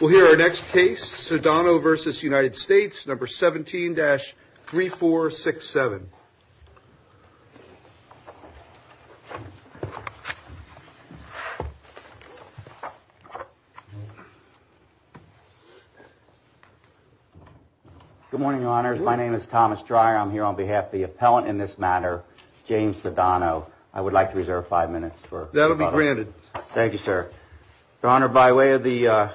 We'll hear our next case, Sodano v. United States, No. 17-3467. Good morning, Your Honors. My name is Thomas Dreyer. I'm here on behalf of the appellant in this matter, James Sodano. I would like to reserve five minutes for... That'll be granted. Thank you, sir. Your Honor, by way of the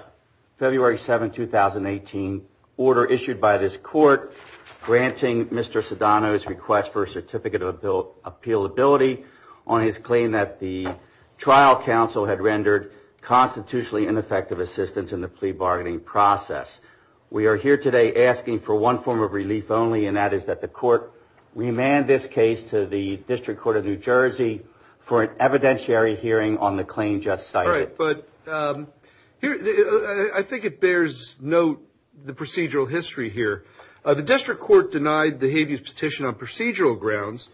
February 7, 2018, order issued by this court granting Mr. Sodano's request for a certificate of appealability on his claim that the trial counsel had rendered constitutionally ineffective assistance in the plea bargaining process, we are here today asking for one form of relief only, and that is that the court remand this case to the District Court of New Jersey for an evidentiary hearing on the claim just cited. All right. But I think it bears note the procedural history here. The District Court denied the habeas petition on procedural grounds.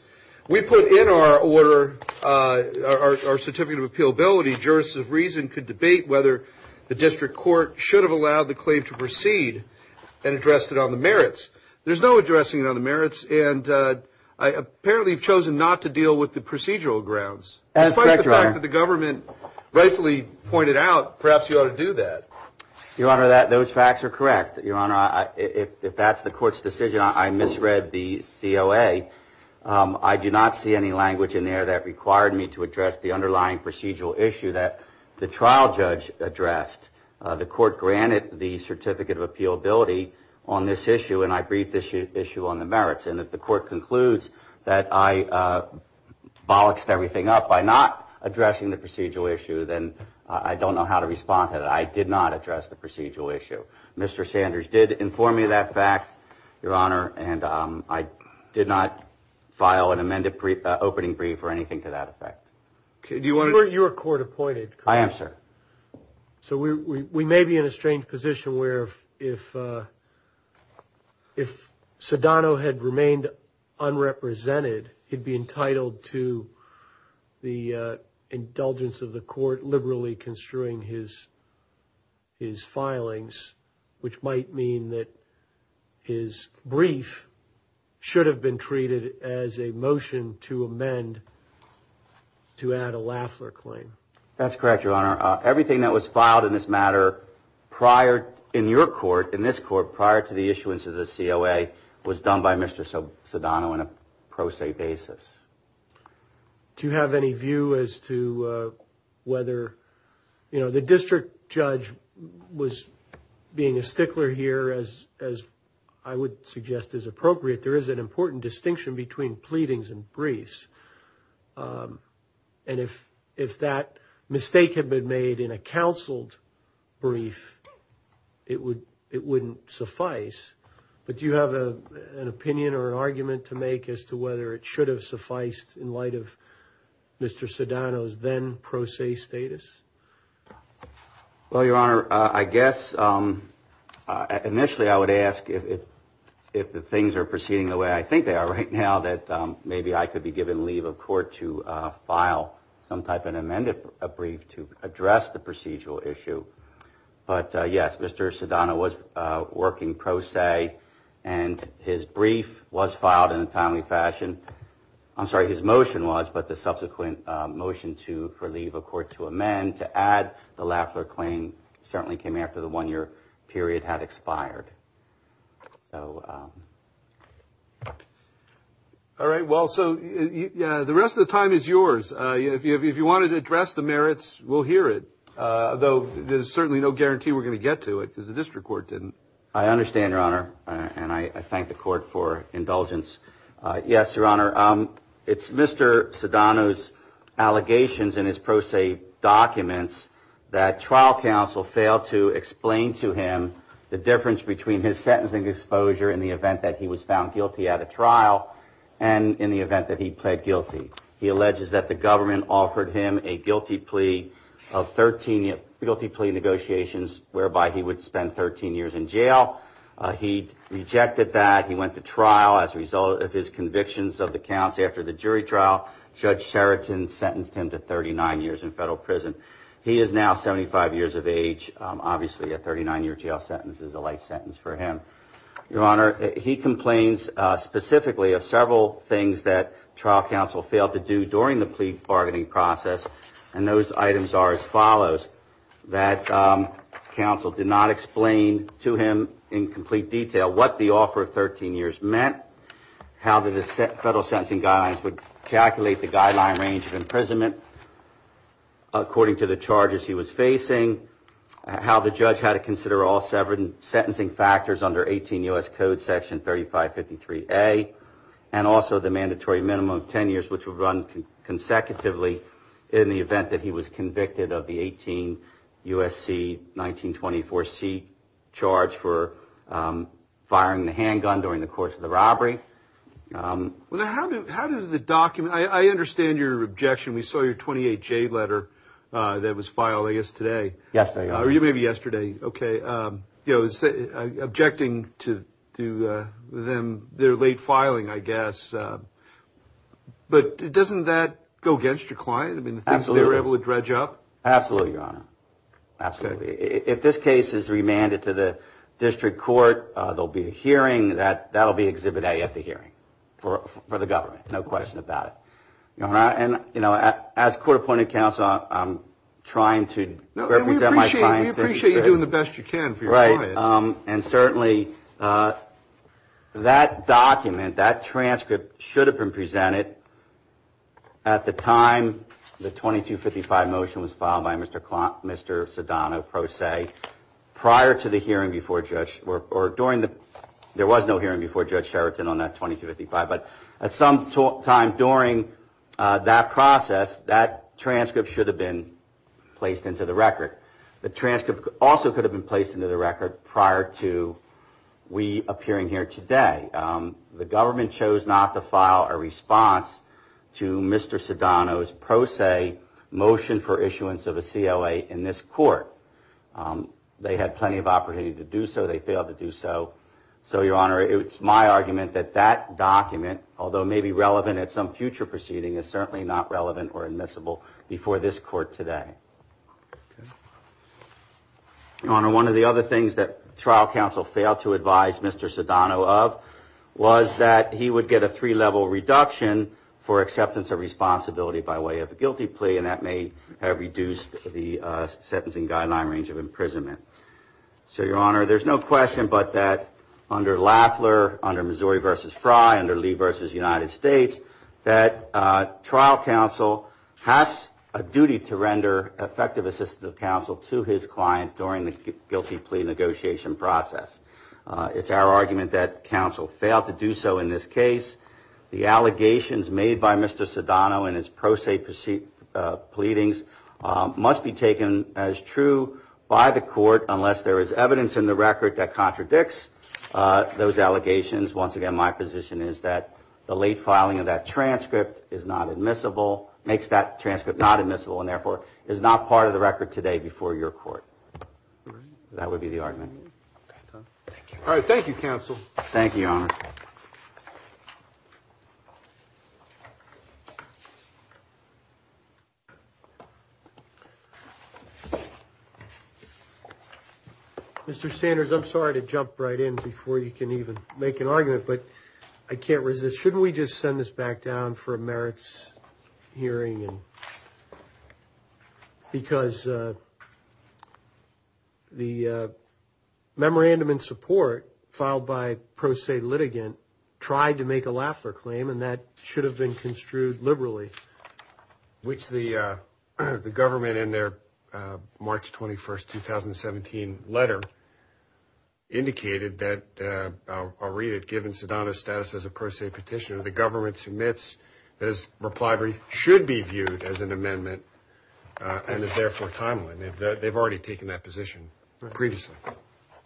We put in our order our certificate of appealability. Jurists of reason could debate whether the District Court should have allowed the claim to proceed and addressed it on the merits. There's no addressing it on the merits, and apparently you've chosen not to deal with the procedural grounds. Despite the fact that the government rightfully pointed out perhaps you ought to do that. Your Honor, those facts are correct. Your Honor, if that's the court's decision, I misread the COA. I do not see any language in there that required me to address the underlying procedural issue that the trial judge addressed. The court granted the certificate of appealability on this issue, and I briefed this issue on the merits. And if the court concludes that I bolloxed everything up by not addressing the procedural issue, then I don't know how to respond to that. I did not address the procedural issue. Mr. Sanders did inform me of that fact, Your Honor, and I did not file an amended opening brief or anything to that effect. You were court appointed, correct? I am, sir. So we may be in a strange position where if Sedano had remained unrepresented, he'd be entitled to the indulgence of the court liberally construing his filings, which might mean that his brief should have been treated as a motion to amend to add a Lafler claim. That's correct, Your Honor. Everything that was filed in this matter prior, in your court, in this court, prior to the issuance of the COA, was done by Mr. Sedano on a pro se basis. Do you have any view as to whether, you know, the district judge was being a stickler here, as I would suggest is appropriate. There is an important distinction between pleadings and briefs. And if that mistake had been made in a counseled brief, it wouldn't suffice. But do you have an opinion or an argument to make as to whether it should have sufficed in light of Mr. Sedano's then pro se status? Well, Your Honor, I guess initially I would ask if the things are proceeding the way I think they are right now, that maybe I could be given leave of court to file some type of amended brief to address the procedural issue. But yes, Mr. Sedano was working pro se, and his brief was filed in a timely fashion. I'm sorry, his motion was, but the subsequent motion for leave of court to amend to add the Lafler claim certainly came after the one year period had expired. All right. Well, so the rest of the time is yours. If you wanted to address the merits, we'll hear it, though there's certainly no guarantee we're going to get to it because the district court didn't. I understand, Your Honor. And I thank the court for indulgence. Yes, Your Honor. It's Mr. Sedano's allegations in his pro se documents that trial counsel failed to explain to him the difference between his sentencing exposure in the event that he was found guilty at a trial and in the event that he pled guilty. He alleges that the government offered him a guilty plea of 13 guilty plea negotiations whereby he would spend 13 years in jail. He rejected that. He went to trial as a result of his convictions of the counts. After the jury trial, Judge Sheraton sentenced him to 39 years in federal prison. He is now 75 years of age. Obviously, a 39 year jail sentence is a life sentence for him. Your Honor, he complains specifically of several things that trial counsel failed to do during the plea bargaining process. And those items are as follows, that counsel did not explain to him in complete detail what the offer of 13 years meant, how the federal sentencing guidelines would calculate the guideline range of imprisonment according to the charges he was facing, how the judge had to consider all seven sentencing factors under 18 U.S. Code Section 3553A, and also the mandatory minimum of 10 years, which were run consecutively in the event that he was convicted of the 18 U.S.C. 1924C charge for firing the handgun during the course of the robbery. Well, how did the document, I understand your objection. We saw your 28J letter that was filed, I guess, today. Yesterday. Or maybe yesterday. Okay. You know, objecting to them, their late filing, I guess. But doesn't that go against your client? I mean, the things they were able to dredge up? Absolutely, Your Honor. Absolutely. If this case is remanded to the district court, there will be a hearing. That will be Exhibit A at the hearing for the government. No question about it. And, you know, as court appointed counsel, I'm trying to represent my client. We appreciate you doing the best you can for your client. And certainly that document, that transcript should have been presented at the time the 2255 motion was filed by Mr. Sedano, prior to the hearing before Judge, or during the, there was no hearing before Judge Sheraton on that 2255. But at some time during that process, that transcript should have been placed into the record. The transcript also could have been placed into the record prior to we appearing here today. The government chose not to file a response to Mr. Sedano's pro se motion for issuance of a COA in this court. They had plenty of opportunity to do so. They failed to do so. So, Your Honor, it's my argument that that document, although maybe relevant at some future proceeding, is certainly not relevant or admissible before this court today. Your Honor, one of the other things that trial counsel failed to advise Mr. Sedano of was that he would get a three-level reduction for acceptance of responsibility by way of a guilty plea, and that may have reduced the sentencing guideline range of imprisonment. So, Your Honor, there's no question but that under Lafler, under Missouri v. Frye, under Lee v. United States, that trial counsel has a duty to render effective assistance of counsel to his client during the guilty plea negotiation process. It's our argument that counsel failed to do so in this case. The allegations made by Mr. Sedano in his pro se proceedings must be taken as true by the court, unless there is evidence in the record that contradicts those allegations. Once again, my position is that the late filing of that transcript is not admissible, makes that transcript not admissible, and therefore is not part of the record today before your court. That would be the argument. All right. Thank you, counsel. Thank you, Your Honor. Mr. Sanders, I'm sorry to jump right in before you can even make an argument, but I can't resist. Shouldn't we just send this back down for a merits hearing? Because the memorandum in support filed by pro se litigant tried to make a Lafler claim, and that should have been construed liberally, which the government in their March 21, 2017, letter indicated that, I'll read it, given Sedano's status as a pro se petitioner, the government submits that his reply should be viewed as an amendment and is therefore timely. They've already taken that position previously.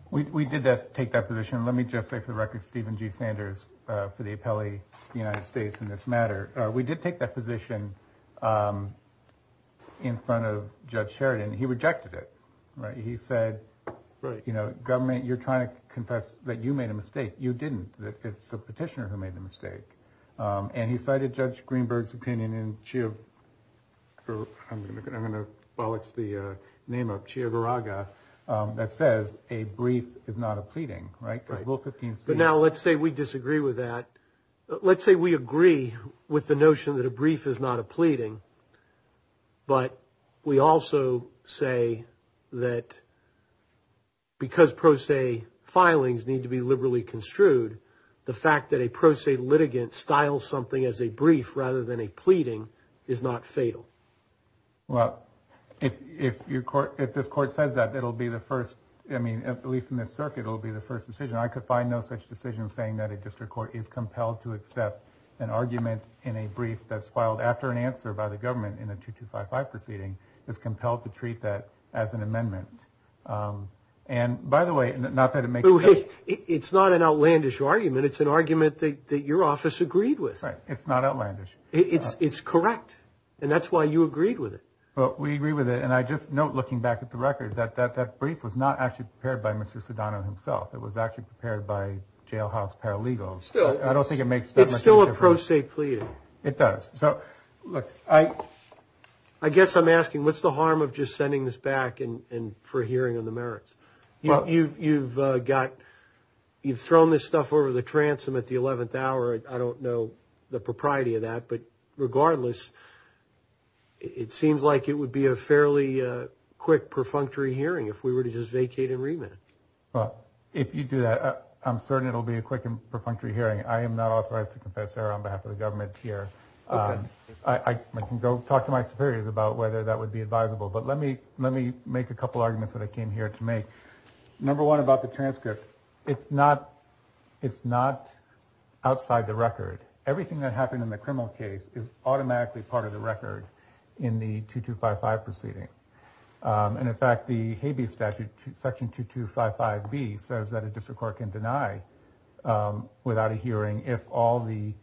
We did take that position. Let me just say for the record, Stephen G. Sanders, for the appellee of the United States in this matter, we did take that position in front of Judge Sheridan. He rejected it. Right. He said, you know, government, you're trying to confess that you made a mistake. You didn't. It's the petitioner who made the mistake. And he cited Judge Greenberg's opinion in, I'm going to bollocks the name of, that says a brief is not a pleading. Right. But now let's say we disagree with that. Let's say we agree with the notion that a brief is not a pleading. But we also say that because pro se filings need to be liberally construed, the fact that a pro se litigant style something as a brief rather than a pleading is not fatal. Well, if your court, if this court says that it'll be the first, I mean, at least in this circuit, it'll be the first decision. I could find no such decision saying that a district court is compelled to accept an argument in a brief that's filed after an answer by the government in a 2255 proceeding is compelled to treat that as an amendment. And by the way, not that it makes it. It's not an outlandish argument. It's an argument that your office agreed with. It's not outlandish. It's correct. And that's why you agreed with it. But we agree with it. And I just note, looking back at the record, that that that brief was not actually prepared by Mr. Sedano himself. It was actually prepared by jailhouse paralegals. I don't think it makes it still a pro se pleading. It does. So, look, I guess I'm asking, what's the harm of just sending this back? And for hearing on the merits, you've got you've thrown this stuff over the transom at the 11th hour. I don't know the propriety of that. But regardless, it seems like it would be a fairly quick, perfunctory hearing if we were to just vacate and remit. Well, if you do that, I'm certain it'll be a quick and perfunctory hearing. I am not authorized to confess there on behalf of the government here. I can go talk to my superiors about whether that would be advisable. But let me let me make a couple arguments that I came here to make. Number one about the transcript. It's not it's not outside the record. Everything that happened in the criminal case is automatically part of the record in the 2255 proceeding. And in fact, the Habeas Statute Section 2255B says that a district court can deny without a hearing if all the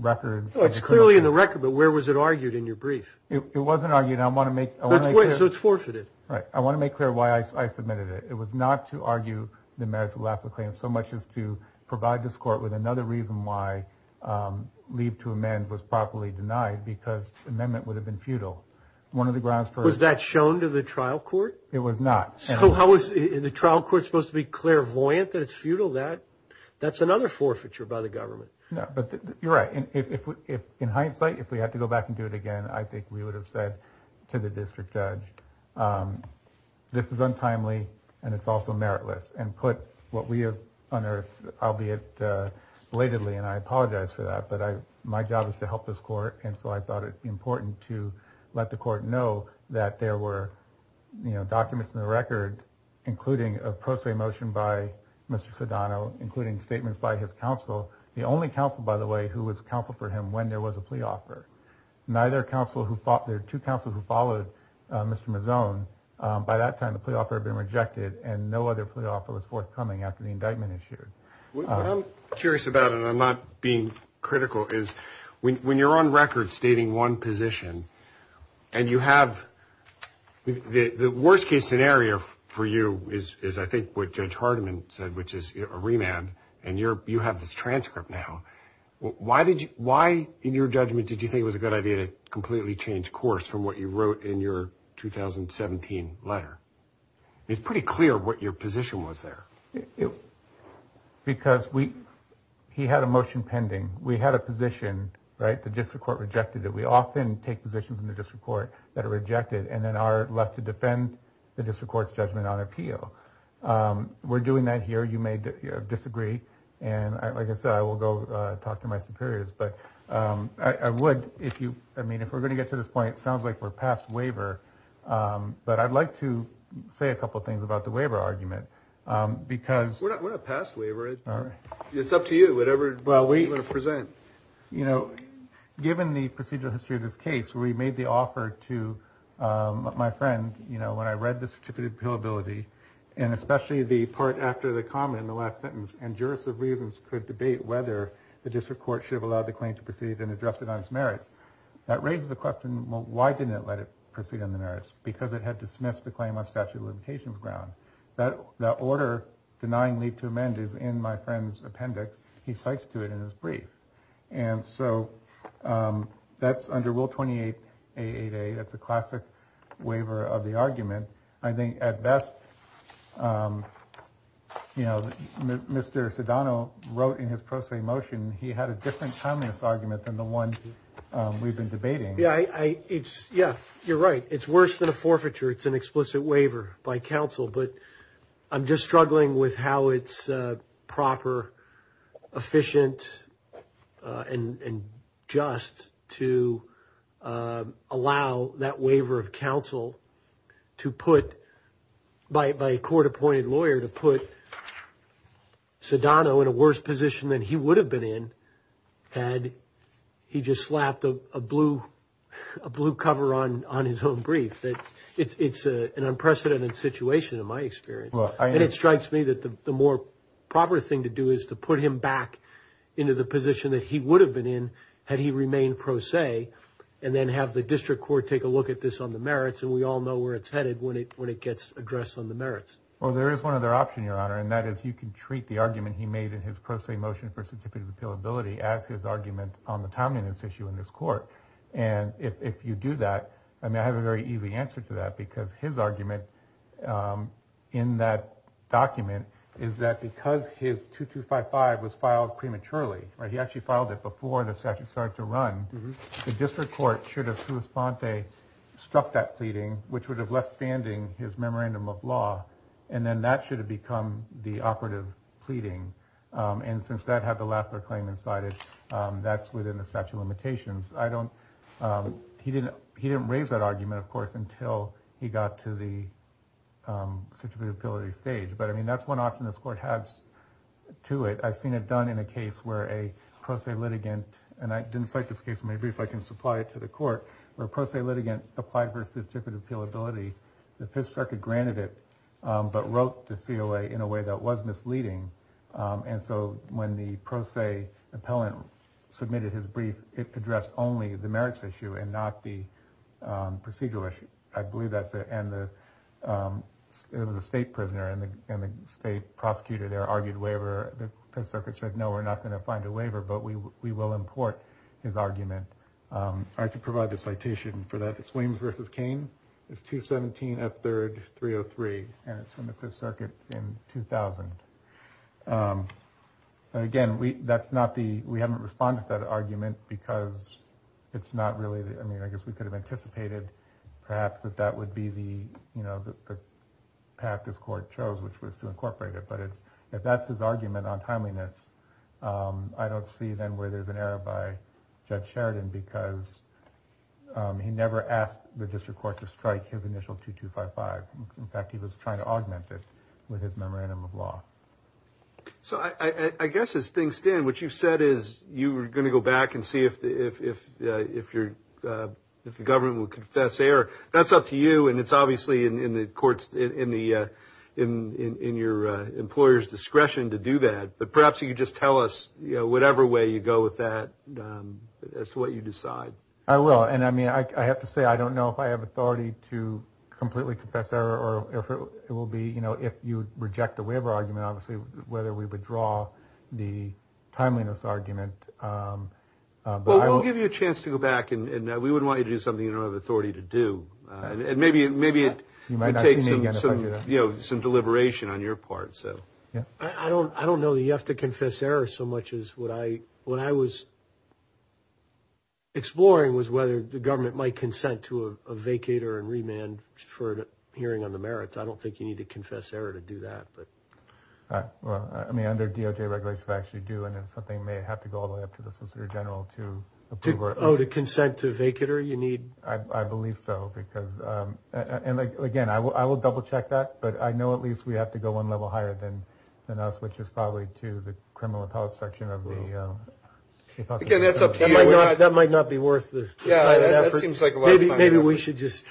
records. It's clearly in the record. But where was it argued in your brief? It wasn't argued. I want to make it so it's forfeited. Right. I want to make clear why I submitted it. It was not to argue the merits of the claim so much as to provide this court with another reason why leave to amend was properly denied, because the amendment would have been futile. One of the grounds for. Was that shown to the trial court? It was not. So how was the trial court supposed to be clairvoyant that it's futile? That that's another forfeiture by the government. No, but you're right. And if in hindsight, if we had to go back and do it again, I think we would have said to the district judge, this is untimely and it's also meritless. And put what we have unearthed, albeit belatedly, and I apologize for that, but my job is to help this court. And so I thought it important to let the court know that there were documents in the record, including a pro se motion by Mr. Sodano, including statements by his counsel. The only counsel, by the way, who was counsel for him when there was a plea offer. Neither counsel who fought there to counsel who followed Mr. Mazzone. By that time, the plea offer had been rejected and no other plea offer was forthcoming after the indictment issued. I'm curious about and I'm not being critical is when you're on record stating one position and you have the worst case scenario for you is, I think, what Judge Hardiman said, which is a remand. And you're you have this transcript now. Why did you why in your judgment did you think it was a good idea to completely change course from what you wrote in your 2017 letter? It's pretty clear what your position was there. Because we he had a motion pending. We had a position, right? The district court rejected that. We often take positions in the district court that are rejected and then are left to defend the district court's judgment on appeal. We're doing that here. You may disagree. And like I said, I will go talk to my superiors. But I would if you I mean, if we're going to get to this point, it sounds like we're past waiver. But I'd like to say a couple of things about the waiver argument, because we're not past waiver. It's up to you, whatever. Well, we present, you know, given the procedural history of this case, we made the offer to my friend. You know, when I read the certificate of appeal ability and especially the part after the comment in the last sentence, and jurists of reasons could debate whether the district court should have allowed the claim to proceed and addressed it on its merits. That raises a question. Why didn't it let it proceed on the merits? Because it had dismissed the claim on statute of limitations ground. That that order denying leave to amend is in my friend's appendix. He cites to it in his brief. And so that's under Rule 28, a day. That's a classic waiver of the argument. I think at best, you know, Mr. Sadano wrote in his pro se motion. He had a different communist argument than the one we've been debating. Yeah, it's. Yeah, you're right. It's worse than a forfeiture. It's an explicit waiver by counsel, but I'm just struggling with how it's proper, efficient and just to allow that waiver of counsel to put. By a court appointed lawyer to put Sadano in a worse position than he would have been in had he just slapped a blue a blue cover on on his own brief. That it's an unprecedented situation, in my experience. And it strikes me that the more proper thing to do is to put him back into the position that he would have been in had he remained pro se and then have the district court take a look at this on the merits. And we all know where it's headed when it when it gets addressed on the merits. Well, there is one other option, Your Honor, and that is you can treat the argument he made in his pro se motion for certificate of appeal ability as his argument on the time in this issue in this court. And if you do that, I mean, I have a very easy answer to that because his argument in that document is that because his two to five five was filed prematurely. He actually filed it before the statute started to run. The district court should have to respond. They struck that pleading, which would have left standing his memorandum of law. And then that should have become the operative pleading. And since that had the laughter claim inside it, that's within the statute of limitations. I don't he didn't he didn't raise that argument, of course, until he got to the ability stage. But I mean, that's one option this court has to it. I've seen it done in a case where a pro se litigant and I didn't cite this case. Maybe if I can supply it to the court or a pro se litigant applied for certificate of appeal ability. The Fifth Circuit granted it, but wrote the COA in a way that was misleading. And so when the pro se appellant submitted his brief, it addressed only the merits issue and not the procedural issue. I believe that's it. And it was a state prisoner and the state prosecutor there argued waiver. The Fifth Circuit said, no, we're not going to find a waiver, but we will import his argument. I could provide the citation for that. It's Williams versus Kane. It's 217 up third, 303. And it's in the Fifth Circuit in 2000. Again, we that's not the we haven't responded to that argument because it's not really. I mean, I guess we could have anticipated perhaps that that would be the path this court chose, which was to incorporate it. But it's if that's his argument on timeliness, I don't see then where there's an error by Judge Sheridan, because he never asked the district court to strike his initial 2255. In fact, he was trying to augment it with his memorandum of law. So I guess as things stand, what you've said is you were going to go back and see if if if you're if the government would confess error. That's up to you. And it's obviously in the courts, in the in in your employer's discretion to do that. But perhaps you could just tell us whatever way you go with that as to what you decide. I will. And I mean, I have to say, I don't know if I have authority to completely confess error or it will be, you know, if you reject the waiver argument, obviously, whether we would draw the timeliness argument. But I will give you a chance to go back and we wouldn't want you to do something you don't have authority to do. And maybe maybe it might take some, you know, some deliberation on your part. So, yeah, I don't I don't know. You have to confess error so much as what I what I was. Exploring was whether the government might consent to a vacater and remand for hearing on the merits. I don't think you need to confess error to do that. But I mean, under DOJ regulations actually do. And it's something may have to go all the way up to the solicitor general to approve or to consent to vacater. You need. I believe so, because. And again, I will I will double check that. But I know at least we have to go one level higher than than us, which is probably to the criminal appellate section of the. Again, that's OK. That might not be worth it. Yeah. That seems like maybe we should just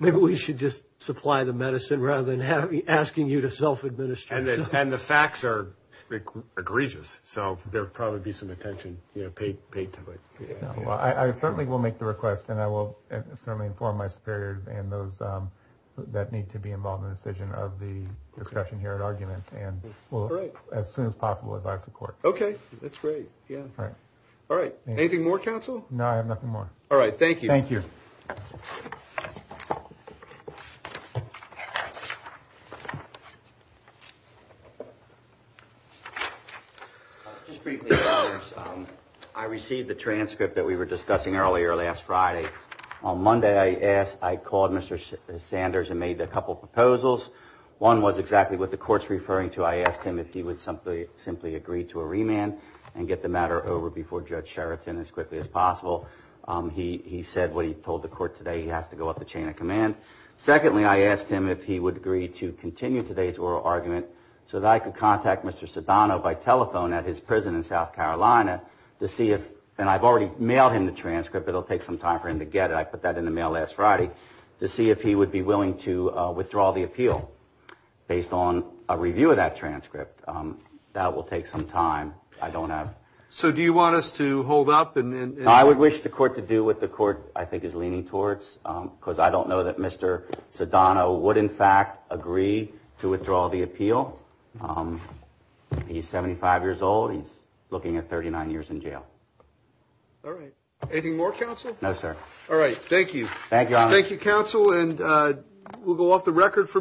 maybe we should just supply the medicine rather than asking you to self-administer. And the facts are egregious. So there would probably be some attention paid to it. Well, I certainly will make the request and I will certainly inform my superiors and those that need to be involved in the decision of the discussion here at argument. And as soon as possible, if I support. OK, that's great. Yeah. All right. Anything more counsel? No, I have nothing more. All right. Thank you. Thank you. I received the transcript that we were discussing earlier last Friday. On Monday, I asked I called Mr. Sanders and made a couple of proposals. One was exactly what the court's referring to. I asked him if he would simply simply agree to a remand and get the matter over before Judge Sheraton as quickly as possible. He said what he told the court today. He has to go up the chain of command. Secondly, I asked him if he would agree to continue today's oral argument so that I could contact Mr. Sadano by telephone at his prison in South Carolina to see if. And I've already mailed him the transcript. It'll take some time for him to get it. I put that in the mail last Friday to see if he would be willing to withdraw the appeal based on a review of that transcript. That will take some time. I don't have. So do you want us to hold up? And I would wish the court to do what the court, I think, is leaning towards, because I don't know that Mr. Sadano would, in fact, agree to withdraw the appeal. He's seventy five years old. He's looking at thirty nine years in jail. All right. Any more counsel? No, sir. All right. Thank you. Thank you. Thank you, counsel. And we'll go off the record for.